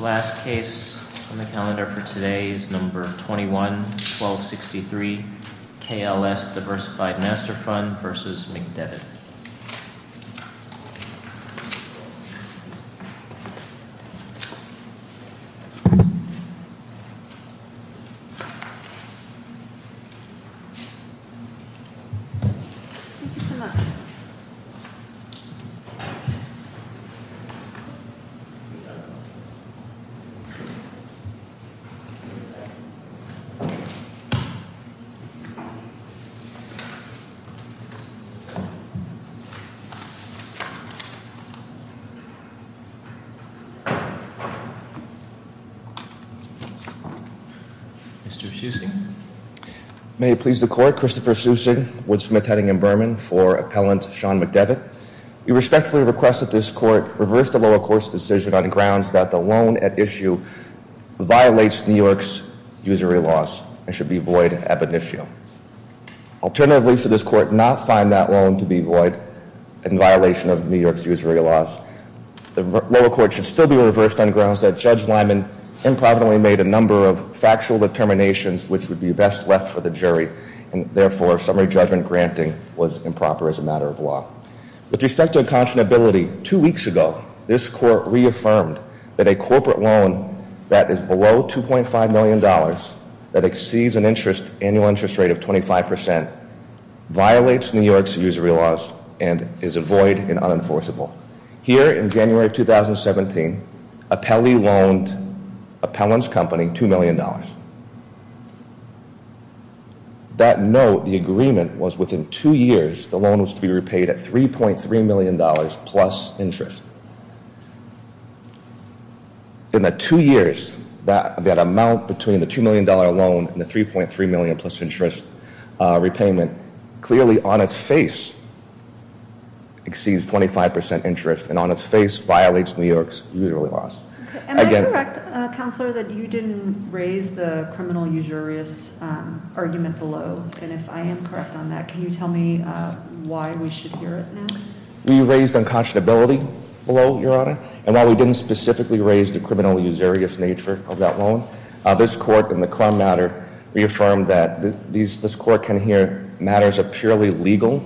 The last case on the calendar for today is number 21-1263, KLS Diversified Master Fund v. McDevitt. Thank you so much. Mr. Sussing. May it please the court, Christopher Sussing, Woods-Smith Heading & Berman for Appellant Sean McDevitt. We respectfully request that this court reverse the lower court's decision on grounds that the loan at issue violates New York's usury laws and should be void ab initio. Alternatively, should this court not find that loan to be void in violation of New York's usury laws, the lower court should still be reversed on grounds that Judge Lyman improbably made a number of factual determinations which would be best left for the jury and therefore summary judgment granting was improper as a matter of law. With respect to unconscionability, two weeks ago, this court reaffirmed that a corporate loan that is below $2.5 million that exceeds an annual interest rate of 25% violates New York's usury laws and is a void and unenforceable. Here in January 2017, Appellee loaned Appellant's company $2 million. That note, the agreement, was within two years the loan was to be repaid at $3.3 million plus interest. In the two years, that amount between the $2 million loan and the $3.3 million plus interest repayment clearly on its face exceeds 25% interest and on its face violates New York's usury laws. Am I correct, Counselor, that you didn't raise the criminal usurious argument below? And if I am correct on that, can you tell me why we should hear it now? We raised unconscionability below, Your Honor. And while we didn't specifically raise the criminal usurious nature of that loan, this court in the crime matter reaffirmed that this court can hear matters of purely legal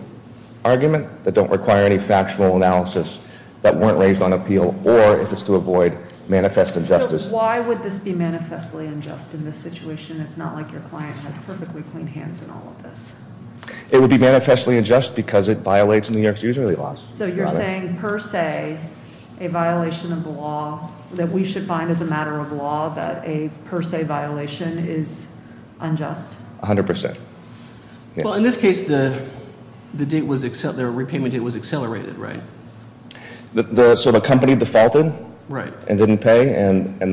argument that don't require any factual analysis that weren't raised on appeal or if it's to avoid manifest injustice. So why would this be manifestly unjust in this situation? It's not like your client has perfectly clean hands in all of this. It would be manifestly unjust because it violates New York's usury laws. So you're saying per se, a violation of the law that we should find as a matter of law that a per se violation is unjust? 100%. Well, in this case, the repayment date was accelerated, right? So the company defaulted and didn't pay and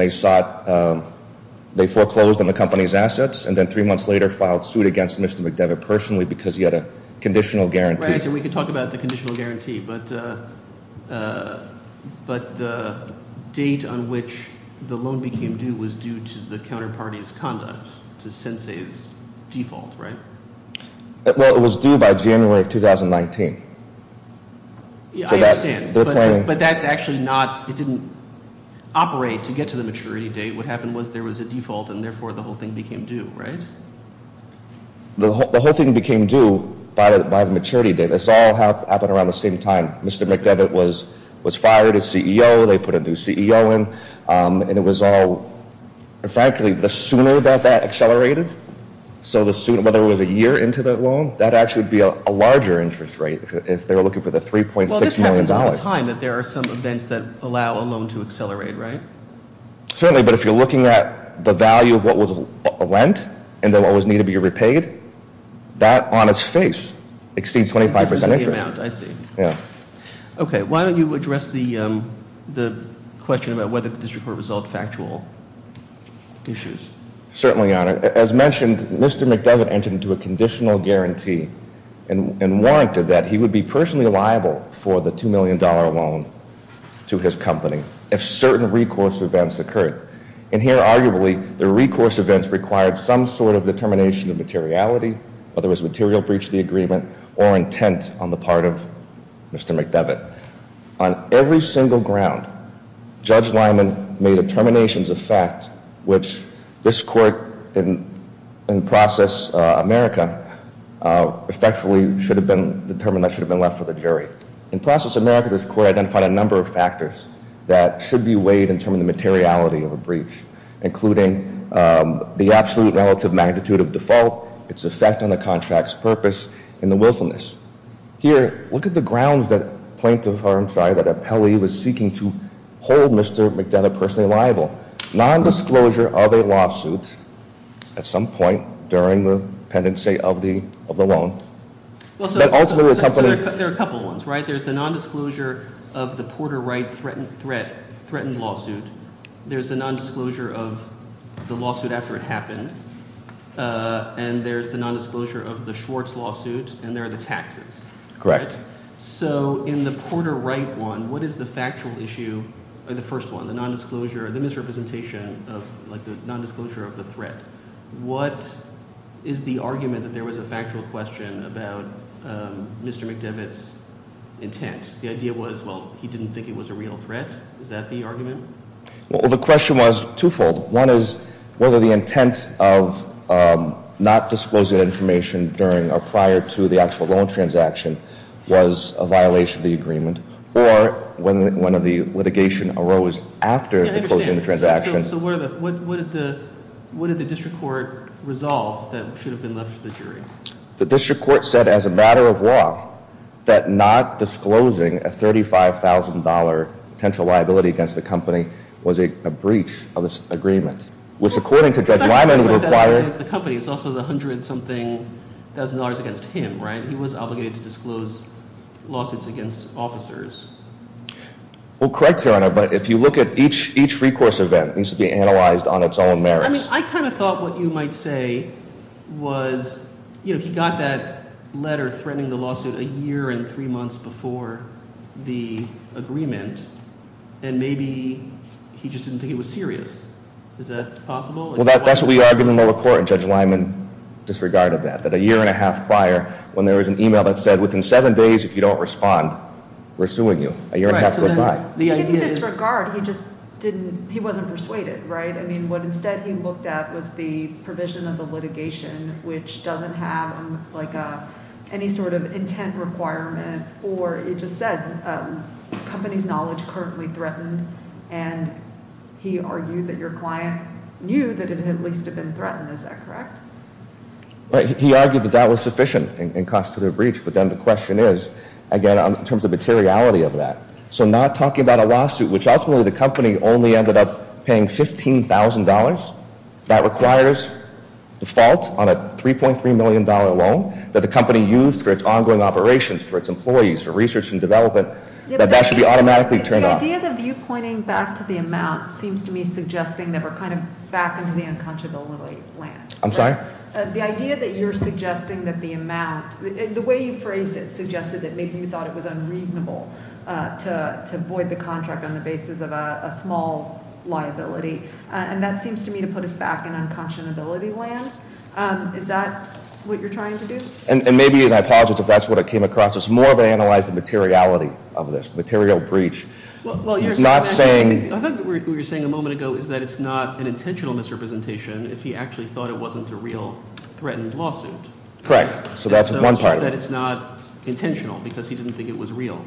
they foreclosed on the company's assets and then three months later filed suit against Mr. McDevitt personally because he had a conditional guarantee. We can talk about the conditional guarantee, but the date on which the loan became due was due to the counterparty's conduct, to Sensei's default, right? Well, it was due by January of 2019. I understand, but that's actually not – it didn't operate to get to the maturity date. What happened was there was a default and therefore the whole thing became due, right? The whole thing became due by the maturity date. This all happened around the same time Mr. McDevitt was fired as CEO. They put a new CEO in, and it was all – frankly, the sooner that that accelerated, so the sooner – whether it was a year into the loan, that would actually be a larger interest rate if they were looking for the $3.6 million. Well, this happens all the time that there are some events that allow a loan to accelerate, right? Certainly, but if you're looking at the value of what was lent and then what was needed to be repaid, that on its face exceeds 25% interest. That's the amount, I see. Yeah. Okay, why don't you address the question about whether this report was all factual issues? Certainly, Your Honor. As mentioned, Mr. McDevitt entered into a conditional guarantee and warranted that he would be personally liable for the $2 million loan to his company if certain recourse events occurred. And here, arguably, the recourse events required some sort of determination of materiality, whether it was material breach of the agreement or intent on the part of Mr. McDevitt. On every single ground, Judge Lyman made determinations of fact, which this Court, in process America, respectfully should have been determined that should have been left for the jury. In process America, this Court identified a number of factors that should be weighed in terms of the materiality of a breach, including the absolute relative magnitude of default, its effect on the contract's purpose, and the willfulness. Here, look at the grounds that plaintiff, I'm sorry, that appellee was seeking to hold Mr. McDevitt personally liable. Nondisclosure of a lawsuit at some point during the pendency of the loan. There are a couple ones, right? There's the nondisclosure of the Porter Wright threatened lawsuit. There's the nondisclosure of the lawsuit after it happened. And there's the nondisclosure of the Schwartz lawsuit, and there are the taxes. Correct. So, in the Porter Wright one, what is the factual issue, or the first one, the nondisclosure, the misrepresentation of, like, the nondisclosure of the threat? What is the argument that there was a factual question about Mr. McDevitt's intent? The idea was, well, he didn't think it was a real threat? Is that the argument? Well, the question was twofold. One is whether the intent of not disclosing that information during or prior to the actual loan transaction was a violation of the agreement. Or whether the litigation arose after the closing of the transaction. Yeah, I understand. So what did the district court resolve that should have been left to the jury? The district court said as a matter of law that not disclosing a $35,000 potential liability against the company was a breach of this agreement. Which, according to Judge Lyman, would require – It's not just the liability against the company. It's also the $100,000 something against him, right? He was obligated to disclose lawsuits against officers. Well, correct, Your Honor, but if you look at each recourse event, it needs to be analyzed on its own merits. I kind of thought what you might say was he got that letter threatening the lawsuit a year and three months before the agreement, and maybe he just didn't think it was serious. Is that possible? Well, that's what we argued in lower court, and Judge Lyman disregarded that, that a year and a half prior when there was an email that said within seven days if you don't respond, we're suing you. A year and a half goes by. He didn't disregard. He just didn't – he wasn't persuaded, right? I mean, what instead he looked at was the provision of the litigation, which doesn't have, like, any sort of intent requirement, or it just said company's knowledge currently threatened, and he argued that your client knew that it at least had been threatened. Is that correct? Right. He argued that that was sufficient in constitutive breach, but then the question is, again, in terms of materiality of that. So not talking about a lawsuit, which ultimately the company only ended up paying $15,000, that requires default on a $3.3 million loan that the company used for its ongoing operations, for its employees, for research and development, that that should be automatically turned off. The idea that you're pointing back to the amount seems to me suggesting that we're kind of back into the unconscionability land. I'm sorry? The idea that you're suggesting that the amount – the way you phrased it suggested that maybe you thought it was unreasonable to void the contract on the basis of a small liability, and that seems to me to put us back in unconscionability land. Is that what you're trying to do? And maybe – and I apologize if that's what I came across. It's more of an analyze of materiality of this, material breach, not saying – I thought what you were saying a moment ago is that it's not an intentional misrepresentation if he actually thought it wasn't a real threatened lawsuit. Correct. So that's one part of it. It's just that it's not intentional because he didn't think it was real.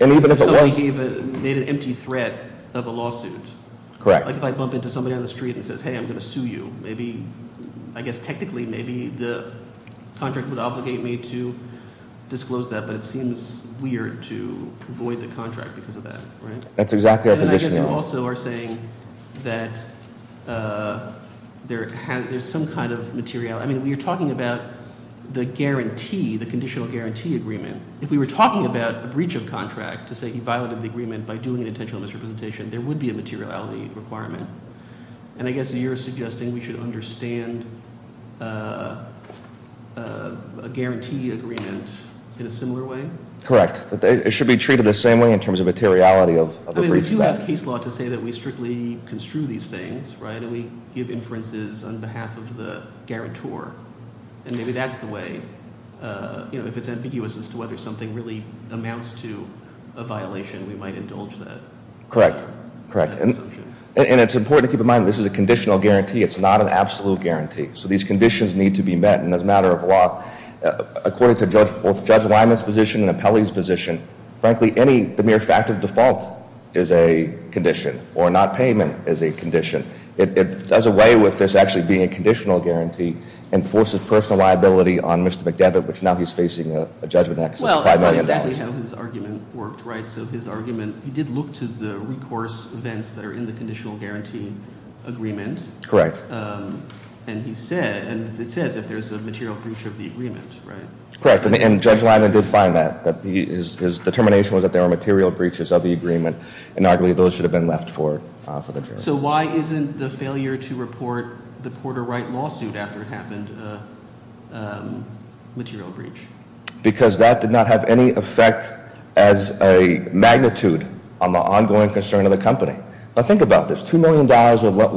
And even if it was – Because somebody made an empty threat of a lawsuit. Correct. Like if I bump into somebody on the street and says, hey, I'm going to sue you, maybe – I guess technically maybe the contract would obligate me to disclose that, but it seems weird to void the contract because of that. That's exactly our position. And I guess you also are saying that there's some kind of materiality. I mean, you're talking about the guarantee, the conditional guarantee agreement. If we were talking about a breach of contract to say he violated the agreement by doing an intentional misrepresentation, there would be a materiality requirement. And I guess you're suggesting we should understand a guarantee agreement in a similar way? Correct. It should be treated the same way in terms of materiality of the breach of contract. I mean, we do have case law to say that we strictly construe these things, right, and we give inferences on behalf of the guarantor. And maybe that's the way – if it's ambiguous as to whether something really amounts to a violation, we might indulge that assumption. Correct. Correct. And it's important to keep in mind this is a conditional guarantee. It's not an absolute guarantee. So these conditions need to be met. And as a matter of law, according to both Judge Liman's position and Appellee's position, frankly, any – the mere fact of default is a condition or not payment is a condition. It does away with this actually being a conditional guarantee and forces personal liability on Mr. McDevitt, which now he's facing a judgment of excess of $5 million. Well, that's not exactly how his argument worked, right? So his argument – he did look to the recourse events that are in the conditional guarantee agreement. Correct. And he said – and it says if there's a material breach of the agreement, right? Correct. And Judge Liman did find that. His determination was that there were material breaches of the agreement, and arguably those should have been left for the jury. So why isn't the failure to report the Porter Wright lawsuit after it happened a material breach? Because that did not have any effect as a magnitude on the ongoing concern of the company. Now, think about this. $2 million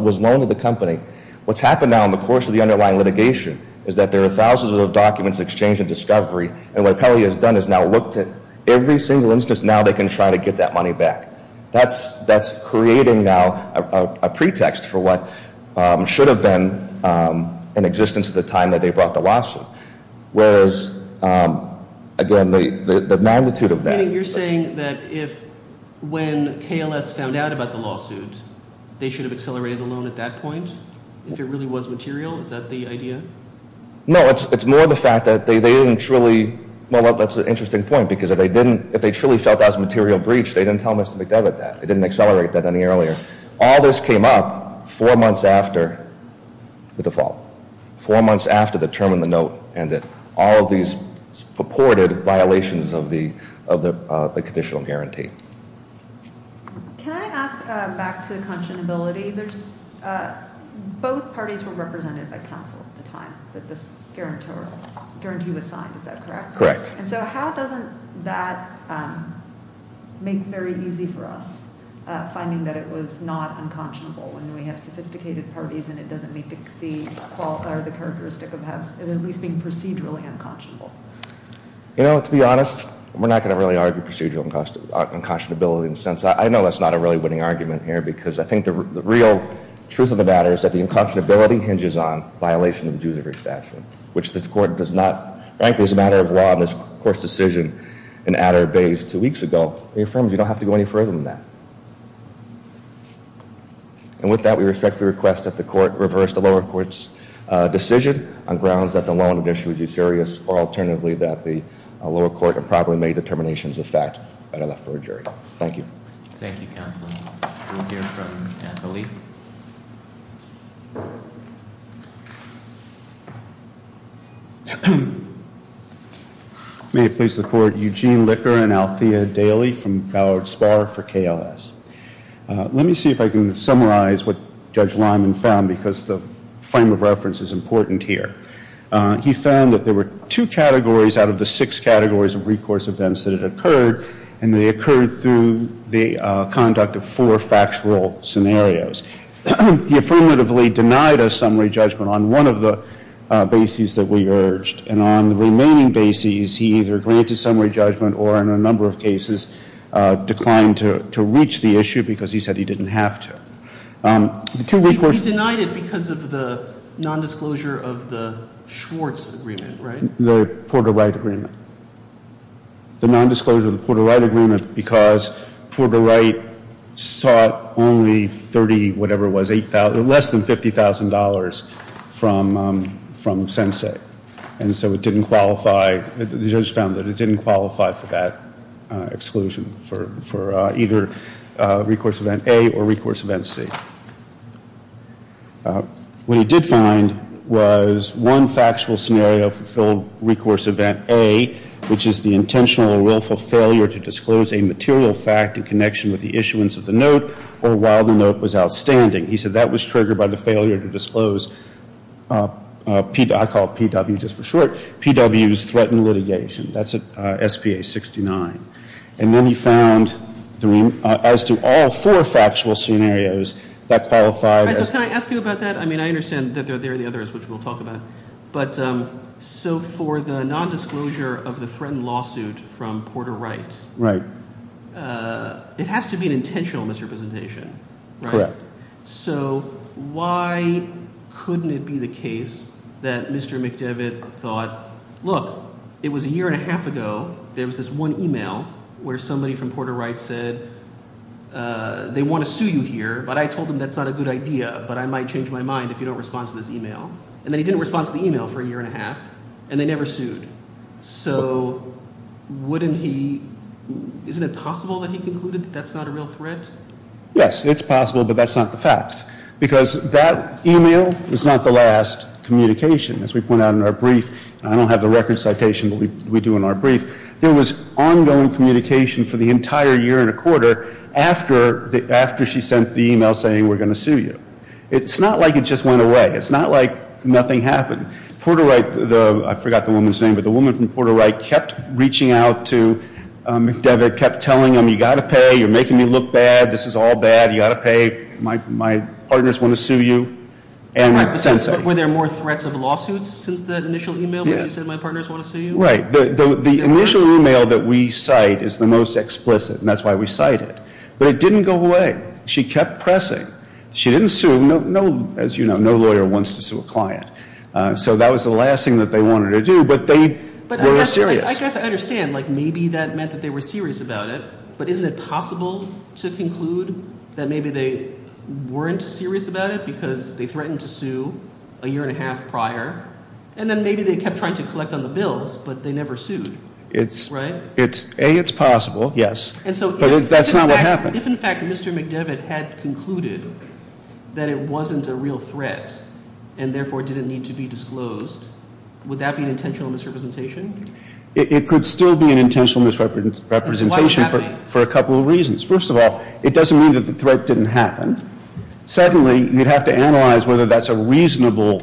was loaned to the company. What's happened now in the course of the underlying litigation is that there are thousands of documents exchanged in discovery, and what Appellee has done is now looked at every single instance now they can try to get that money back. That's creating now a pretext for what should have been in existence at the time that they brought the lawsuit. Whereas, again, the magnitude of that – I think you're saying that if – when KLS found out about the lawsuit, they should have accelerated the loan at that point, if it really was material? Is that the idea? No, it's more the fact that they didn't truly – well, that's an interesting point, because if they didn't – if they truly felt that was a material breach, they didn't tell Mr. McDevitt that. They didn't accelerate that any earlier. All this came up four months after the default, four months after the term in the note ended. All of these purported violations of the conditional guarantee. Can I ask back to the conscionability? Both parties were represented by counsel at the time that this guarantee was signed. Is that correct? Correct. And so how doesn't that make it very easy for us, finding that it was not unconscionable when we have sophisticated parties and it doesn't meet the – or the characteristic of at least being procedurally unconscionable? You know, to be honest, we're not going to really argue procedural unconscionability in the sense – I know that's not a really winning argument here, because I think the real truth of the matter is that the unconscionability hinges on violation of the judiciary statute, which this Court does not – frankly, as a matter of law, this Court's decision in Adder Bayes two weeks ago, it affirms you don't have to go any further than that. And with that, we respectfully request that the Court reverse the lower court's decision on grounds that the law on the issue was too serious, or alternatively, that the lower court improperly made determinations of fact and are left for a jury. Thank you. Thank you, counsel. We'll hear from Anthony. Thank you. May it please the Court, Eugene Licker and Althea Daly from Ballard Spar for KLS. Let me see if I can summarize what Judge Lyman found, because the frame of reference is important here. He found that there were two categories out of the six categories of recourse events that had occurred, and they occurred through the conduct of four factual scenarios. He affirmatively denied a summary judgment on one of the bases that we urged, and on the remaining bases, he either granted summary judgment or, in a number of cases, declined to reach the issue because he said he didn't have to. He denied it because of the nondisclosure of the Schwartz agreement, right? The Porter-Wright agreement. The nondisclosure of the Porter-Wright agreement because Porter-Wright sought only 30, whatever it was, less than $50,000 from Sensei, and so it didn't qualify. The judge found that it didn't qualify for that exclusion for either recourse event A or recourse event C. What he did find was one factual scenario fulfilled recourse event A, which is the intentional or willful failure to disclose a material fact in connection with the issuance of the note or while the note was outstanding. He said that was triggered by the failure to disclose, I call it PW just for short, PW's threatened litigation. That's at SPA 69. And then he found, as to all four factual scenarios, that qualified as— Can I ask you about that? I mean, I understand that there are the others, which we'll talk about. But so for the nondisclosure of the threatened lawsuit from Porter-Wright, it has to be an intentional misrepresentation, right? Correct. So why couldn't it be the case that Mr. McDevitt thought, look, it was a year and a half ago, there was this one e-mail where somebody from Porter-Wright said they want to sue you here, but I told them that's not a good idea, but I might change my mind if you don't respond to this e-mail. And then he didn't respond to the e-mail for a year and a half, and they never sued. So wouldn't he—isn't it possible that he concluded that that's not a real threat? Yes, it's possible, but that's not the facts because that e-mail is not the last communication. I don't have the record citation, but we do in our brief. There was ongoing communication for the entire year and a quarter after she sent the e-mail saying we're going to sue you. It's not like it just went away. It's not like nothing happened. Porter-Wright, I forgot the woman's name, but the woman from Porter-Wright kept reaching out to McDevitt, kept telling him you've got to pay, you're making me look bad, this is all bad, you've got to pay, my partners want to sue you. Were there more threats of lawsuits since that initial e-mail when she said my partners want to sue you? Right. The initial e-mail that we cite is the most explicit, and that's why we cite it. But it didn't go away. She kept pressing. She didn't sue. As you know, no lawyer wants to sue a client. So that was the last thing that they wanted to do, but they were serious. I guess I understand. Like maybe that meant that they were serious about it, but isn't it possible to conclude that maybe they weren't serious about it because they threatened to sue a year and a half prior, and then maybe they kept trying to collect on the bills, but they never sued, right? A, it's possible, yes, but that's not what happened. If, in fact, Mr. McDevitt had concluded that it wasn't a real threat and therefore didn't need to be disclosed, would that be an intentional misrepresentation? It could still be an intentional misrepresentation for a couple of reasons. First of all, it doesn't mean that the threat didn't happen. Secondly, you'd have to analyze whether that's a reasonable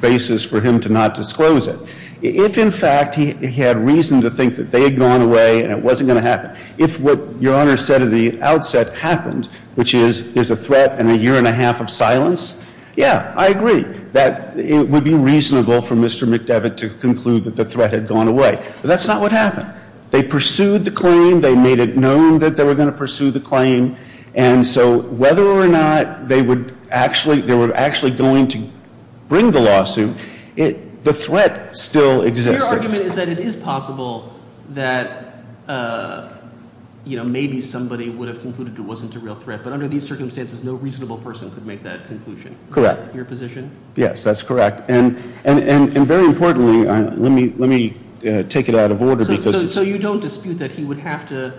basis for him to not disclose it. If, in fact, he had reason to think that they had gone away and it wasn't going to happen, if what Your Honor said at the outset happened, which is there's a threat and a year and a half of silence, yeah, I agree, that it would be reasonable for Mr. McDevitt to conclude that the threat had gone away. But that's not what happened. They pursued the claim. They made it known that they were going to pursue the claim. And so whether or not they were actually going to bring the lawsuit, the threat still exists. Your argument is that it is possible that maybe somebody would have concluded it wasn't a real threat. But under these circumstances, no reasonable person could make that conclusion. Correct. Your position? Yes, that's correct. And very importantly, let me take it out of order because So you don't dispute that he would have to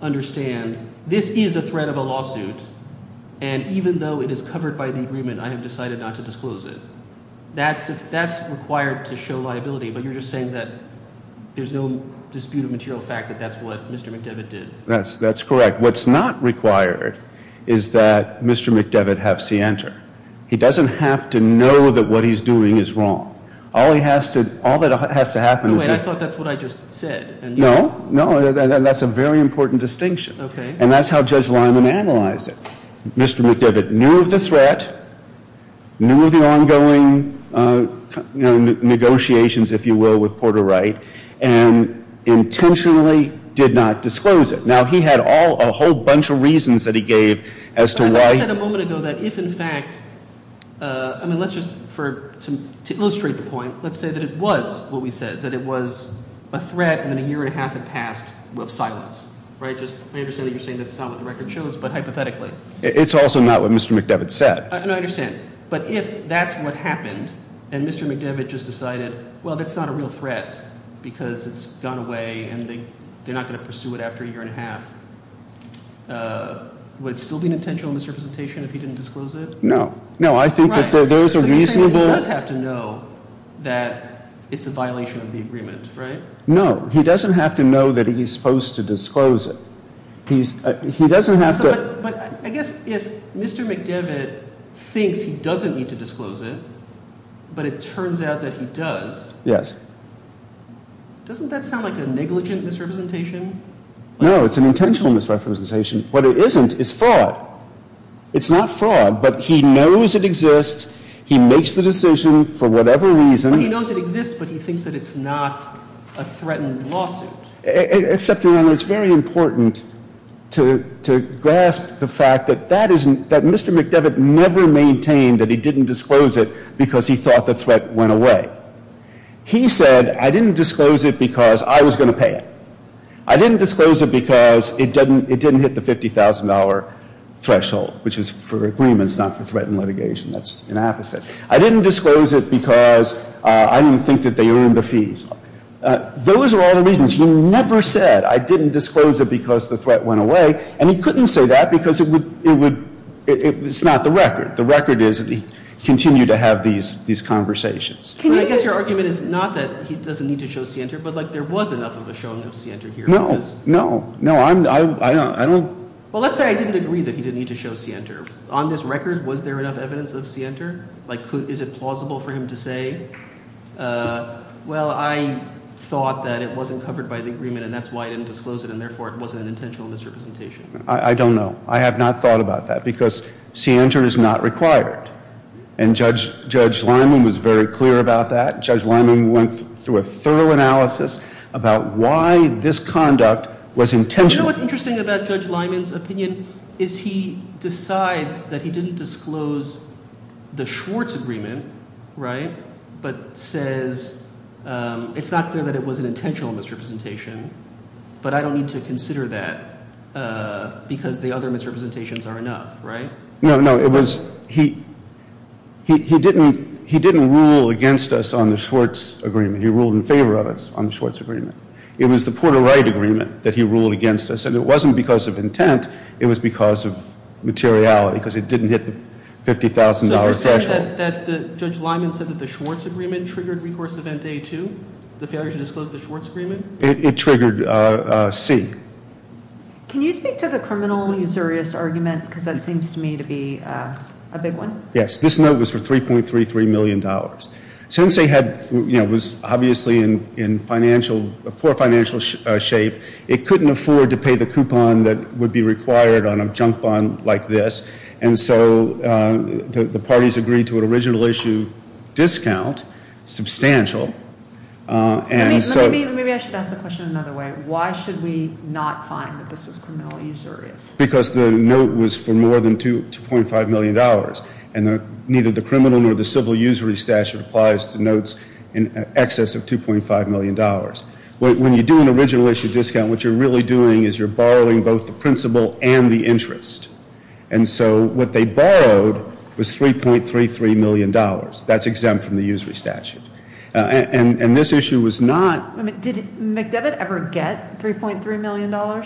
understand this is a threat of a lawsuit, and even though it is covered by the agreement, I have decided not to disclose it. That's required to show liability. But you're just saying that there's no dispute of material fact that that's what Mr. McDevitt did. That's correct. What's not required is that Mr. McDevitt have scienter. He doesn't have to know that what he's doing is wrong. All he has to, all that has to happen is I thought that's what I just said. No, no, that's a very important distinction. Okay. And that's how Judge Lyman analyzed it. Mr. McDevitt knew of the threat, knew of the ongoing negotiations, if you will, with Porter Wright, and intentionally did not disclose it. Now, he had a whole bunch of reasons that he gave as to why I thought you said a moment ago that if in fact, I mean, let's just, to illustrate the point, let's say that it was what we said, that it was a threat, and then a year and a half had passed of silence. Right? Just, I understand that you're saying that's not what the record shows, but hypothetically. It's also not what Mr. McDevitt said. No, I understand. But if that's what happened, and Mr. McDevitt just decided, well, that's not a real threat, because it's gone away and they're not going to pursue it after a year and a half, would it still be an intentional misrepresentation if he didn't disclose it? No. No, I think that there is a reasonable You're saying that he does have to know that it's a violation of the agreement, right? No. He doesn't have to know that he's supposed to disclose it. He doesn't have to But I guess if Mr. McDevitt thinks he doesn't need to disclose it, but it turns out that he does. Yes. Doesn't that sound like a negligent misrepresentation? No, it's an intentional misrepresentation. What it isn't is fraud. It's not fraud, but he knows it exists. He makes the decision for whatever reason. He knows it exists, but he thinks that it's not a threatened lawsuit. Except, Your Honor, it's very important to grasp the fact that Mr. McDevitt never maintained that he didn't disclose it because he thought the threat went away. He said, I didn't disclose it because I was going to pay it. I didn't disclose it because it didn't hit the $50,000 threshold, which is for agreements, not for threatened litigation. That's the opposite. I didn't disclose it because I didn't think that they earned the fees. Those are all the reasons. He never said, I didn't disclose it because the threat went away. And he couldn't say that because it's not the record. The record is that he continued to have these conversations. So I guess your argument is not that he doesn't need to show scienter, but there was enough of a showing of scienter here. No. No. I don't. Well, let's say I didn't agree that he didn't need to show scienter. On this record, was there enough evidence of scienter? Is it plausible for him to say, well, I thought that it wasn't covered by the agreement, and that's why I didn't disclose it, and therefore it wasn't an intentional misrepresentation? I don't know. I have not thought about that because scienter is not required. And Judge Lyman was very clear about that. Judge Lyman went through a thorough analysis about why this conduct was intentional. You know what's interesting about Judge Lyman's opinion is he decides that he didn't disclose the Schwartz agreement, right, but says it's not clear that it was an intentional misrepresentation, but I don't need to consider that because the other misrepresentations are enough, right? No, no. It was he didn't rule against us on the Schwartz agreement. He ruled in favor of us on the Schwartz agreement. It was the Porter-Wright agreement that he ruled against us, and it wasn't because of intent. It was because of materiality because it didn't hit the $50,000 threshold. So you're saying that Judge Lyman said that the Schwartz agreement triggered recourse event A-2, the failure to disclose the Schwartz agreement? It triggered C. Can you speak to the criminal usurious argument because that seems to me to be a big one? Yes. This note was for $3.33 million. Since they had, you know, it was obviously in financial, poor financial shape, it couldn't afford to pay the coupon that would be required on a junk bond like this, and so the parties agreed to an original issue discount, substantial, and so. Maybe I should ask the question another way. Why should we not find that this was criminal usurious? Because the note was for more than $2.5 million, and neither the criminal nor the civil usury statute applies to notes in excess of $2.5 million. When you do an original issue discount, what you're really doing is you're borrowing both the principle and the interest, and so what they borrowed was $3.33 million. That's exempt from the usury statute, and this issue was not. Did McDevitt ever get $3.3 million?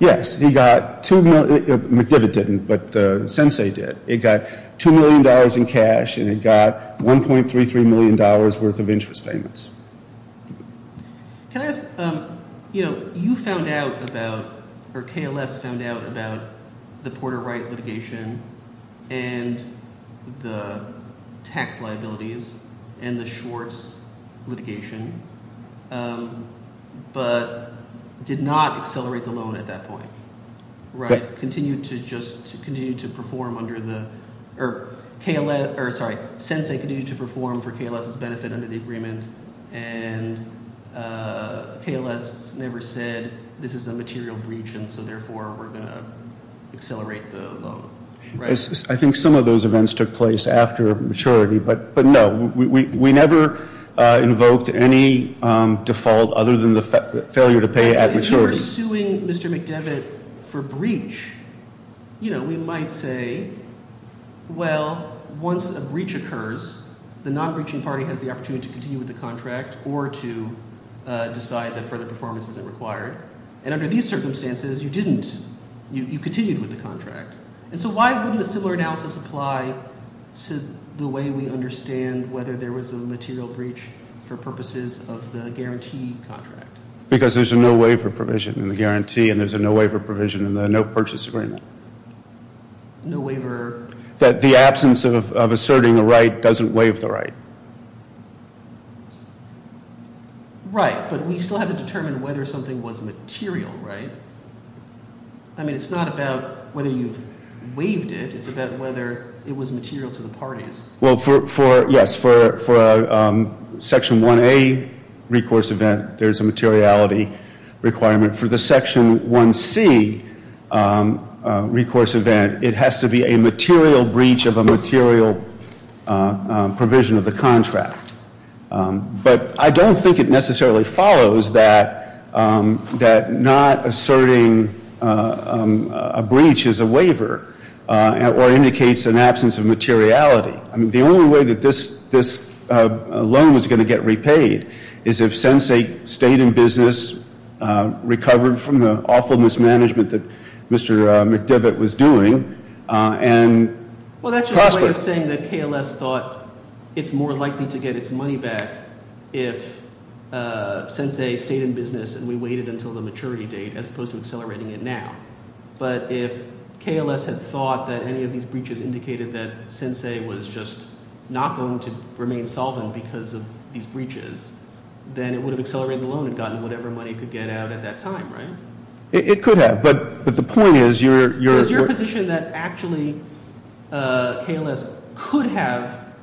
Yes. He got $2 million. McDevitt didn't, but Sensei did. It got $2 million in cash, and it got $1.33 million worth of interest payments. Can I ask, you know, you found out about, or KLS found out about the Porter Wright litigation and the tax liabilities and the Schwartz litigation, but did not accelerate the loan at that point, right? Continued to just continue to perform under the, or KLS, or sorry, Sensei continued to perform for KLS's benefit under the agreement, and KLS never said this is a material breach, and so therefore we're going to accelerate the loan, right? I think some of those events took place after maturity, but no. We never invoked any default other than the failure to pay at maturity. If you were suing Mr. McDevitt for breach, you know, we might say, well, once a breach occurs, the non-breaching party has the opportunity to continue with the contract or to decide that further performance isn't required, and under these circumstances, you didn't. You continued with the contract, and so why wouldn't a similar analysis apply to the way we understand whether there was a material breach for purposes of the guarantee contract? Because there's a no waiver provision in the guarantee, and there's a no waiver provision in the no purchase agreement. No waiver. That the absence of asserting a right doesn't waive the right. Right, but we still have to determine whether something was material, right? I mean, it's not about whether you've waived it. It's about whether it was material to the parties. Well, yes, for Section 1A recourse event, there's a materiality requirement. For the Section 1C recourse event, it has to be a material breach of a material provision of the contract. But I don't think it necessarily follows that not asserting a breach is a waiver or indicates an absence of materiality. I mean, the only way that this loan was going to get repaid is if Sensei stayed in business, recovered from the awful mismanagement that Mr. McDivitt was doing, and prospered. Well, that's just a way of saying that KLS thought it's more likely to get its money back if Sensei stayed in business and we waited until the maturity date as opposed to accelerating it now. But if KLS had thought that any of these breaches indicated that Sensei was just not going to remain solvent because of these breaches, then it would have accelerated the loan and gotten whatever money it could get out at that time, right? It could have, but the point is you're— So it's your position that actually KLS could have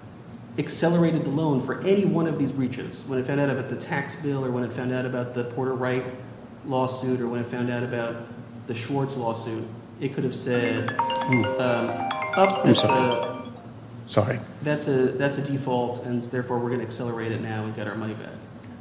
accelerated the loan for any one of these breaches, when it found out about the tax bill or when it found out about the Porter Wright lawsuit or when it found out about the Schwartz lawsuit, it could have said— I'm sorry. That's a default, and therefore we're going to accelerate it now and get our money back.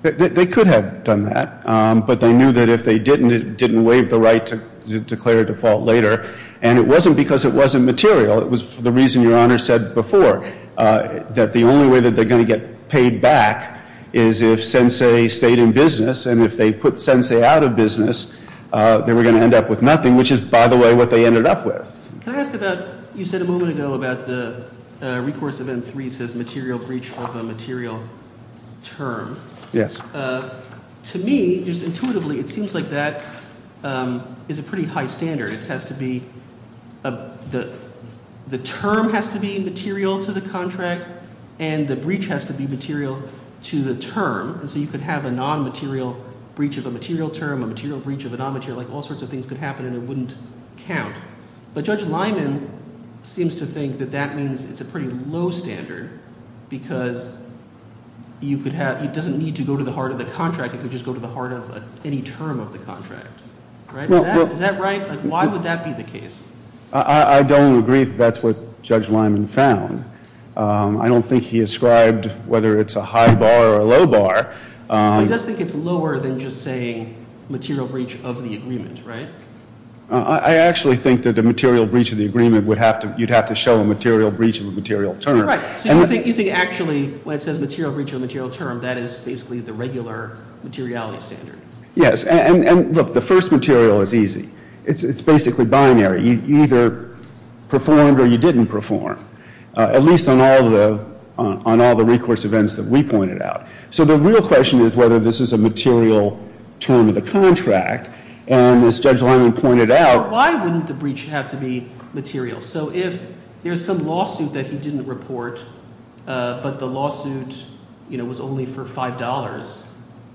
They could have done that, but they knew that if they didn't, it didn't waive the right to declare a default later. And it wasn't because it wasn't material. It was the reason Your Honor said before, that the only way that they're going to get paid back is if Sensei stayed in business. And if they put Sensei out of business, they were going to end up with nothing, which is, by the way, what they ended up with. Can I ask about—you said a moment ago about the recourse of M-3 says material breach of a material term. Yes. To me, just intuitively, it seems like that is a pretty high standard. It has to be—the term has to be material to the contract, and the breach has to be material to the term. And so you could have a non-material breach of a material term, a material breach of a non-material— like all sorts of things could happen, and it wouldn't count. But Judge Lyman seems to think that that means it's a pretty low standard because you could have— it doesn't need to go to the heart of the contract. It could just go to the heart of any term of the contract. Is that right? Why would that be the case? I don't agree that that's what Judge Lyman found. I don't think he ascribed whether it's a high bar or a low bar. He does think it's lower than just saying material breach of the agreement, right? I actually think that the material breach of the agreement would have to— you'd have to show a material breach of a material term. Right. So you think actually when it says material breach of a material term, that is basically the regular materiality standard. Yes. And look, the first material is easy. It's basically binary. You either performed or you didn't perform, at least on all the recourse events that we pointed out. So the real question is whether this is a material term of the contract, and as Judge Lyman pointed out— Why wouldn't the breach have to be material? So if there's some lawsuit that he didn't report, but the lawsuit was only for $5,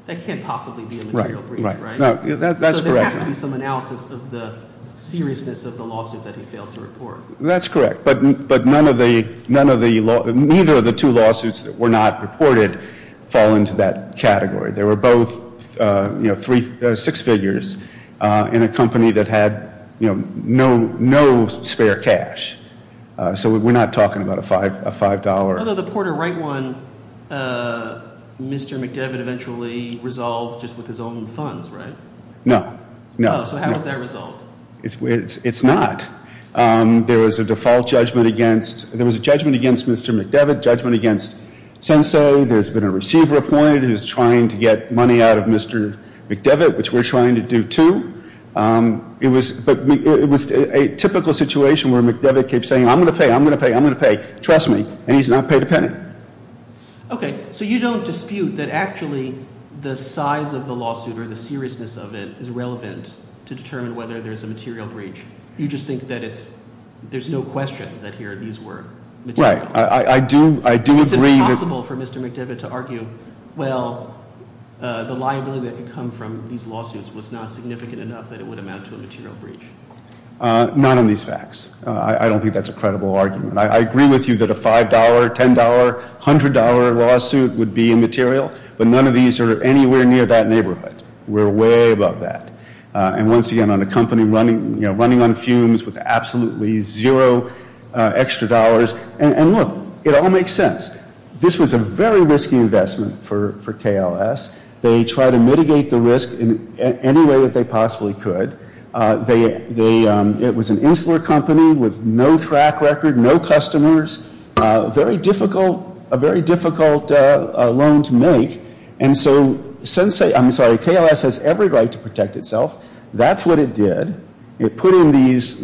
that can't possibly be a material breach, right? That's correct. There has to be some analysis of the seriousness of the lawsuit that he failed to report. That's correct. But none of the—neither of the two lawsuits that were not reported fall into that category. They were both six figures in a company that had no spare cash. So we're not talking about a $5— Although the Porter Wright one, Mr. McDevitt eventually resolved just with his own funds, right? No, no. So how was that resolved? It's not. There was a default judgment against—there was a judgment against Mr. McDevitt, judgment against Sensay. There's been a receiver appointed who's trying to get money out of Mr. McDevitt, which we're trying to do too. But it was a typical situation where McDevitt kept saying, I'm going to pay, I'm going to pay, I'm going to pay. Trust me. And he's not paid a penny. Okay. So you don't dispute that actually the size of the lawsuit or the seriousness of it is relevant to determine whether there's a material breach. You just think that it's—there's no question that here these were material— Right. I do—I do agree that— It's impossible for Mr. McDevitt to argue, well, the liability that could come from these lawsuits was not significant enough that it would amount to a material breach. Not on these facts. I don't think that's a credible argument. I agree with you that a $5, $10, $100 lawsuit would be immaterial. But none of these are anywhere near that neighborhood. We're way above that. And once again, on a company running on fumes with absolutely zero extra dollars. And look, it all makes sense. This was a very risky investment for KLS. They tried to mitigate the risk in any way that they possibly could. It was an insular company with no track record, no customers. Very difficult—a very difficult loan to make. And so since—I'm sorry, KLS has every right to protect itself. That's what it did. It put in these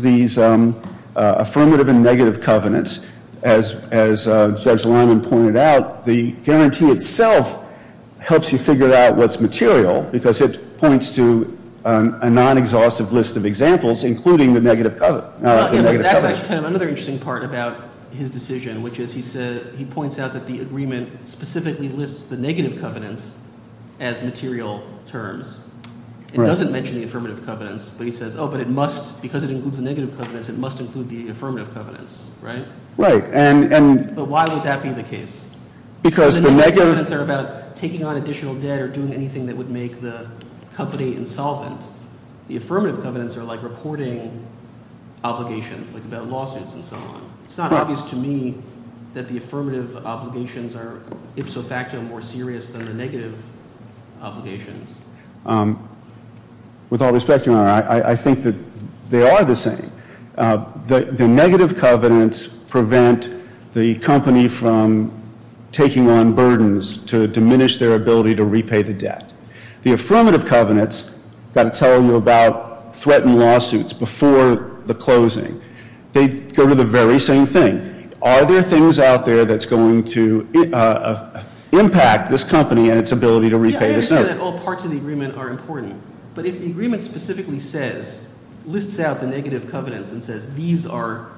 affirmative and negative covenants. As Judge Lyman pointed out, the guarantee itself helps you figure out what's material. Because it points to a non-exhaustive list of examples, including the negative covenants. That's actually another interesting part about his decision, which is he points out that the agreement specifically lists the negative covenants as material terms. It doesn't mention the affirmative covenants. But he says, oh, but it must—because it includes the negative covenants, it must include the affirmative covenants, right? Right. But why would that be the case? Because the negative covenants are about taking on additional debt or doing anything that would make the company insolvent. The affirmative covenants are like reporting obligations, like about lawsuits and so on. It's not obvious to me that the affirmative obligations are ipso facto more serious than the negative obligations. With all respect, Your Honor, I think that they are the same. The negative covenants prevent the company from taking on burdens to diminish their ability to repay the debt. The affirmative covenants, I've got to tell you about, threaten lawsuits before the closing. They go to the very same thing. Are there things out there that's going to impact this company and its ability to repay this debt? I understand that all parts of the agreement are important. But if the agreement specifically says, lists out the negative covenants and says these are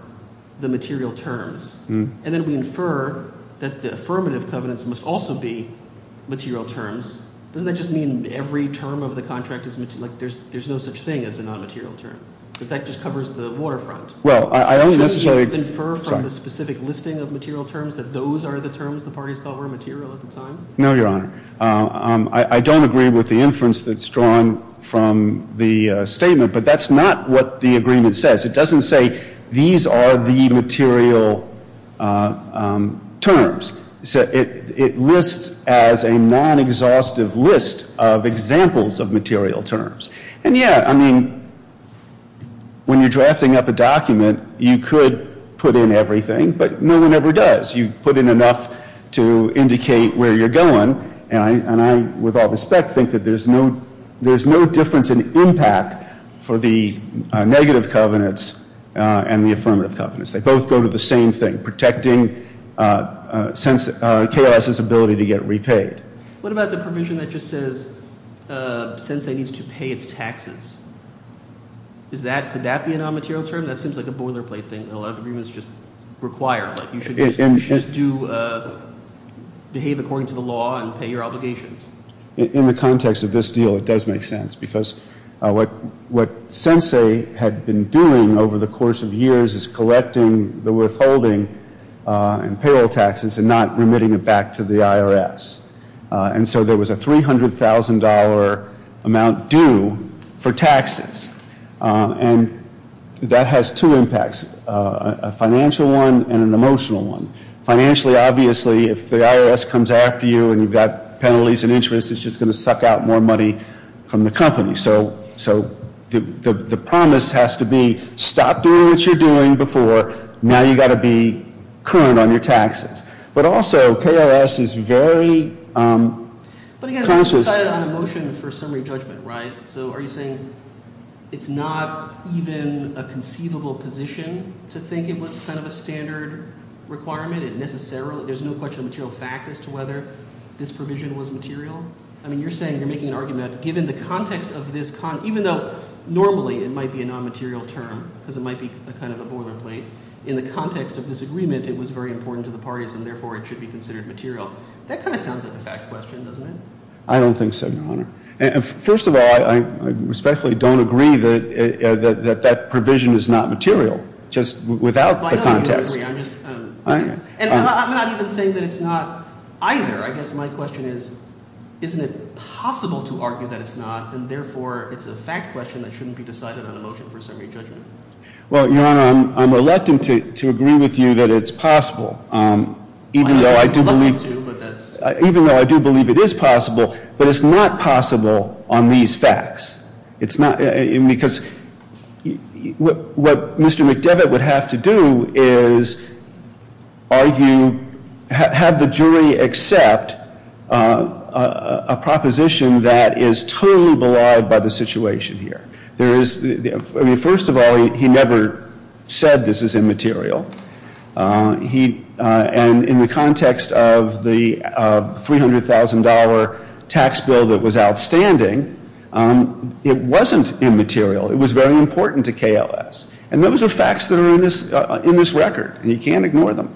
the material terms, and then we infer that the affirmative covenants must also be material terms, doesn't that just mean every term of the contract is—like there's no such thing as a non-material term? In fact, it just covers the waterfront. Well, I don't necessarily— Shouldn't you infer from the specific listing of material terms that those are the terms the parties thought were material at the time? No, Your Honor. I don't agree with the inference that's drawn from the statement, but that's not what the agreement says. It doesn't say these are the material terms. It lists as a non-exhaustive list of examples of material terms. And, yeah, I mean, when you're drafting up a document, you could put in everything, but no one ever does. You put in enough to indicate where you're going, and I, with all respect, think that there's no difference in impact for the negative covenants and the affirmative covenants. They both go to the same thing, protecting chaos's ability to get repaid. What about the provision that just says sensei needs to pay its taxes? Is that—could that be a non-material term? That seems like a boilerplate thing that a lot of agreements just require. You should behave according to the law and pay your obligations. In the context of this deal, it does make sense, because what sensei had been doing over the course of years is collecting the withholding and payroll taxes and not remitting it back to the IRS. And so there was a $300,000 amount due for taxes, and that has two impacts, a financial one and an emotional one. Financially, obviously, if the IRS comes after you and you've got penalties and interest, it's just going to suck out more money from the company. So the promise has to be stop doing what you're doing before. Now you've got to be current on your taxes. But also, KRS is very conscious— But again, you decided on a motion for summary judgment, right? So are you saying it's not even a conceivable position to think it was kind of a standard requirement? There's no question of material fact as to whether this provision was material? I mean, you're saying you're making an argument, given the context of this— even though normally it might be a non-material term, because it might be kind of a boilerplate, in the context of this agreement, it was very important to the parties, and therefore it should be considered material. That kind of sounds like a fact question, doesn't it? I don't think so, Your Honor. First of all, I respectfully don't agree that that provision is not material, just without the context. I'm not even saying that it's not either. I guess my question is, isn't it possible to argue that it's not, and therefore it's a fact question that shouldn't be decided on a motion for summary judgment? Well, Your Honor, I'm reluctant to agree with you that it's possible, even though I do believe it is possible, but it's not possible on these facts. Because what Mr. McDevitt would have to do is argue, have the jury accept a proposition that is totally belied by the situation here. First of all, he never said this is immaterial. And in the context of the $300,000 tax bill that was outstanding, it wasn't immaterial. It was very important to KLS. And those are facts that are in this record, and you can't ignore them.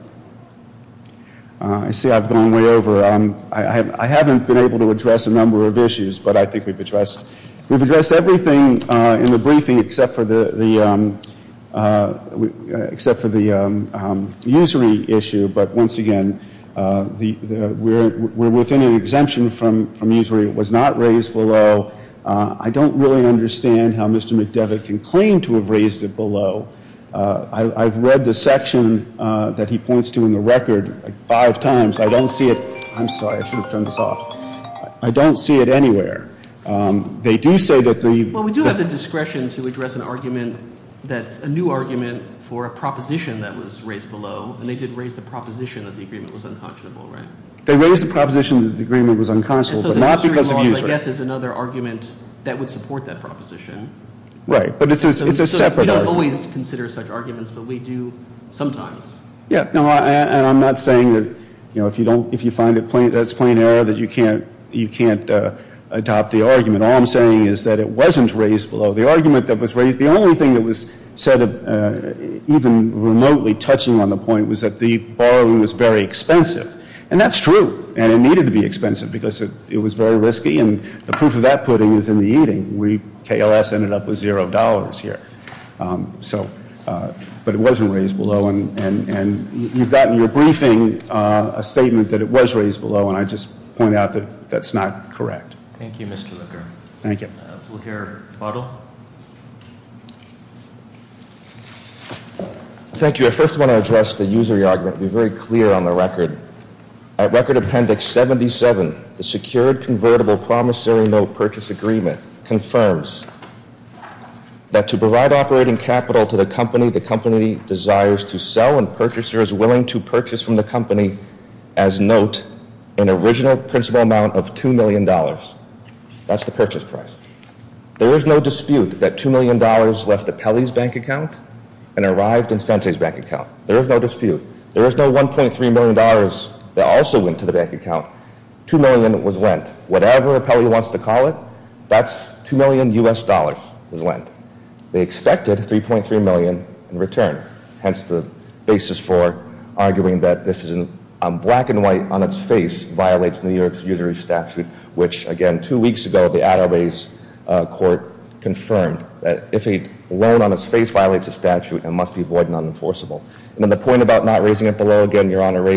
I see I've gone way over. I haven't been able to address a number of issues, but I think we've addressed everything in the briefing except for the usury issue. But once again, we're within an exemption from usury. It was not raised below. I don't really understand how Mr. McDevitt can claim to have raised it below. I've read the section that he points to in the record five times. I don't see it. I'm sorry. I should have turned this off. I don't see it anywhere. They do say that the ‑‑ Well, we do have the discretion to address an argument that's a new argument for a proposition that was raised below, and they did raise the proposition that the agreement was unconscionable, right? They raised the proposition that the agreement was unconscionable, but not because of usury. And so the usury clause, I guess, is another argument that would support that proposition. Right. But it's a separate argument. So we don't always consider such arguments, but we do sometimes. Yeah. And I'm not saying that, you know, if you find that's plain error, that you can't adopt the argument. All I'm saying is that it wasn't raised below. The argument that was raised, the only thing that was said, even remotely touching on the point, was that the borrowing was very expensive. And that's true. And it needed to be expensive because it was very risky, and the proof of that pudding is in the eating. We, KLS, ended up with $0 here. So, but it wasn't raised below. And you've got in your briefing a statement that it was raised below, and I just point out that that's not correct. Thank you, Mr. Looker. Thank you. We'll hear Bottle. Thank you. I first want to address the usury argument and be very clear on the record. At Record Appendix 77, the Secured Convertible Promissory Note Purchase Agreement confirms that to provide operating capital to the company the company desires to sell and purchasers willing to purchase from the company as note an original principal amount of $2 million. That's the purchase price. There is no dispute that $2 million left Apelli's bank account and arrived in Sante's bank account. There is no dispute. There is no $1.3 million that also went to the bank account. $2 million was lent. Whatever Apelli wants to call it, that's $2 million U.S. dollars was lent. They expected $3.3 million in return. Hence, the basis for arguing that this is a black and white on its face violates New York's usury statute, which, again, two weeks ago the Attaway's court confirmed that if a loan on its face violates a statute, it must be void and unenforceable. And then the point about not raising it below, again, Your Honor,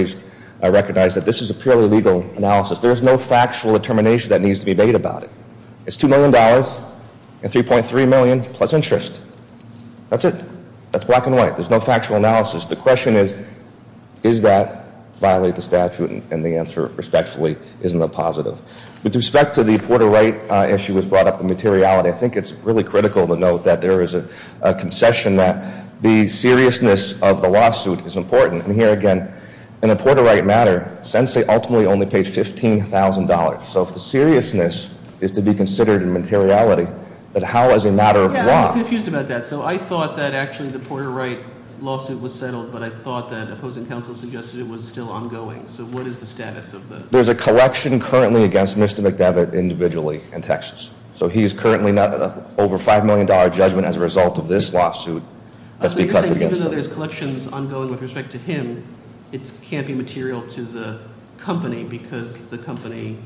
I recognize that this is a purely legal analysis. There is no factual determination that needs to be made about it. It's $2 million and $3.3 million plus interest. That's it. That's black and white. There's no factual analysis. The question is, is that violate the statute? And the answer, respectfully, is in the positive. With respect to the Porter Wright issue as brought up, the materiality, I think it's really critical to note that there is a concession that the seriousness of the lawsuit is important. And here again, in a Porter Wright matter, sensei ultimately only paid $15,000. So if the seriousness is to be considered in materiality, then how is a matter of law? Yeah, I'm confused about that. So I thought that actually the Porter Wright lawsuit was settled, but I thought that opposing counsel suggested it was still ongoing. So what is the status of the- There's a collection currently against Mr. McDevitt individually in Texas. So he is currently over a $5 million judgment as a result of this lawsuit that's been cut against him. So you're saying even though there's collections ongoing with respect to him, it can't be material to the company because the company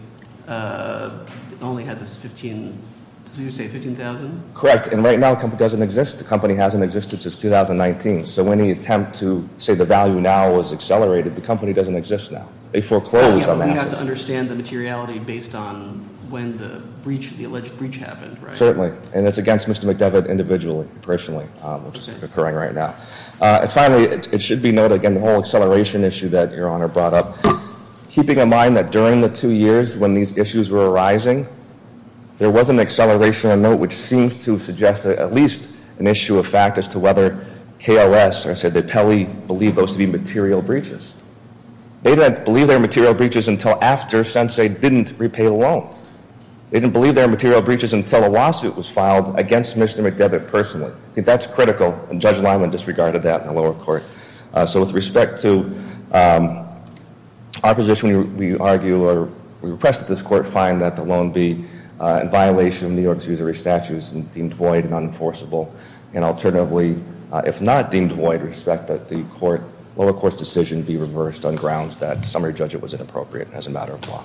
only had this 15,000? Correct. And right now the company doesn't exist. The company hasn't existed since 2019. So when you attempt to say the value now is accelerated, the company doesn't exist now. They foreclosed on that. So they had to understand the materiality based on when the alleged breach happened, right? Certainly. And it's against Mr. McDevitt individually, personally, which is occurring right now. And finally, it should be noted, again, the whole acceleration issue that Your Honor brought up, keeping in mind that during the two years when these issues were arising, there was an acceleration of note which seems to suggest at least an issue of fact as to whether KLS, or I should say that Pelley, believed those to be material breaches. They didn't believe they were material breaches until after, since they didn't repay the loan. They didn't believe they were material breaches until a lawsuit was filed against Mr. McDevitt personally. I think that's critical, and Judge Lyman disregarded that in the lower court. So with respect to our position, we argue, or we repress this court, find that the loan be in violation of New York's usury statutes and deemed void and unenforceable. And alternatively, if not deemed void, respect that the lower court's decision be reversed on grounds that summary judgment was inappropriate as a matter of law.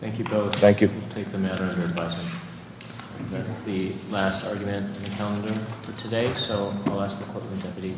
Thank you both. Thank you. We'll take the matter under advice. That's the last argument in the calendar for today. So I'll ask the Court of the Deputy to adjourn. Court is adjourned.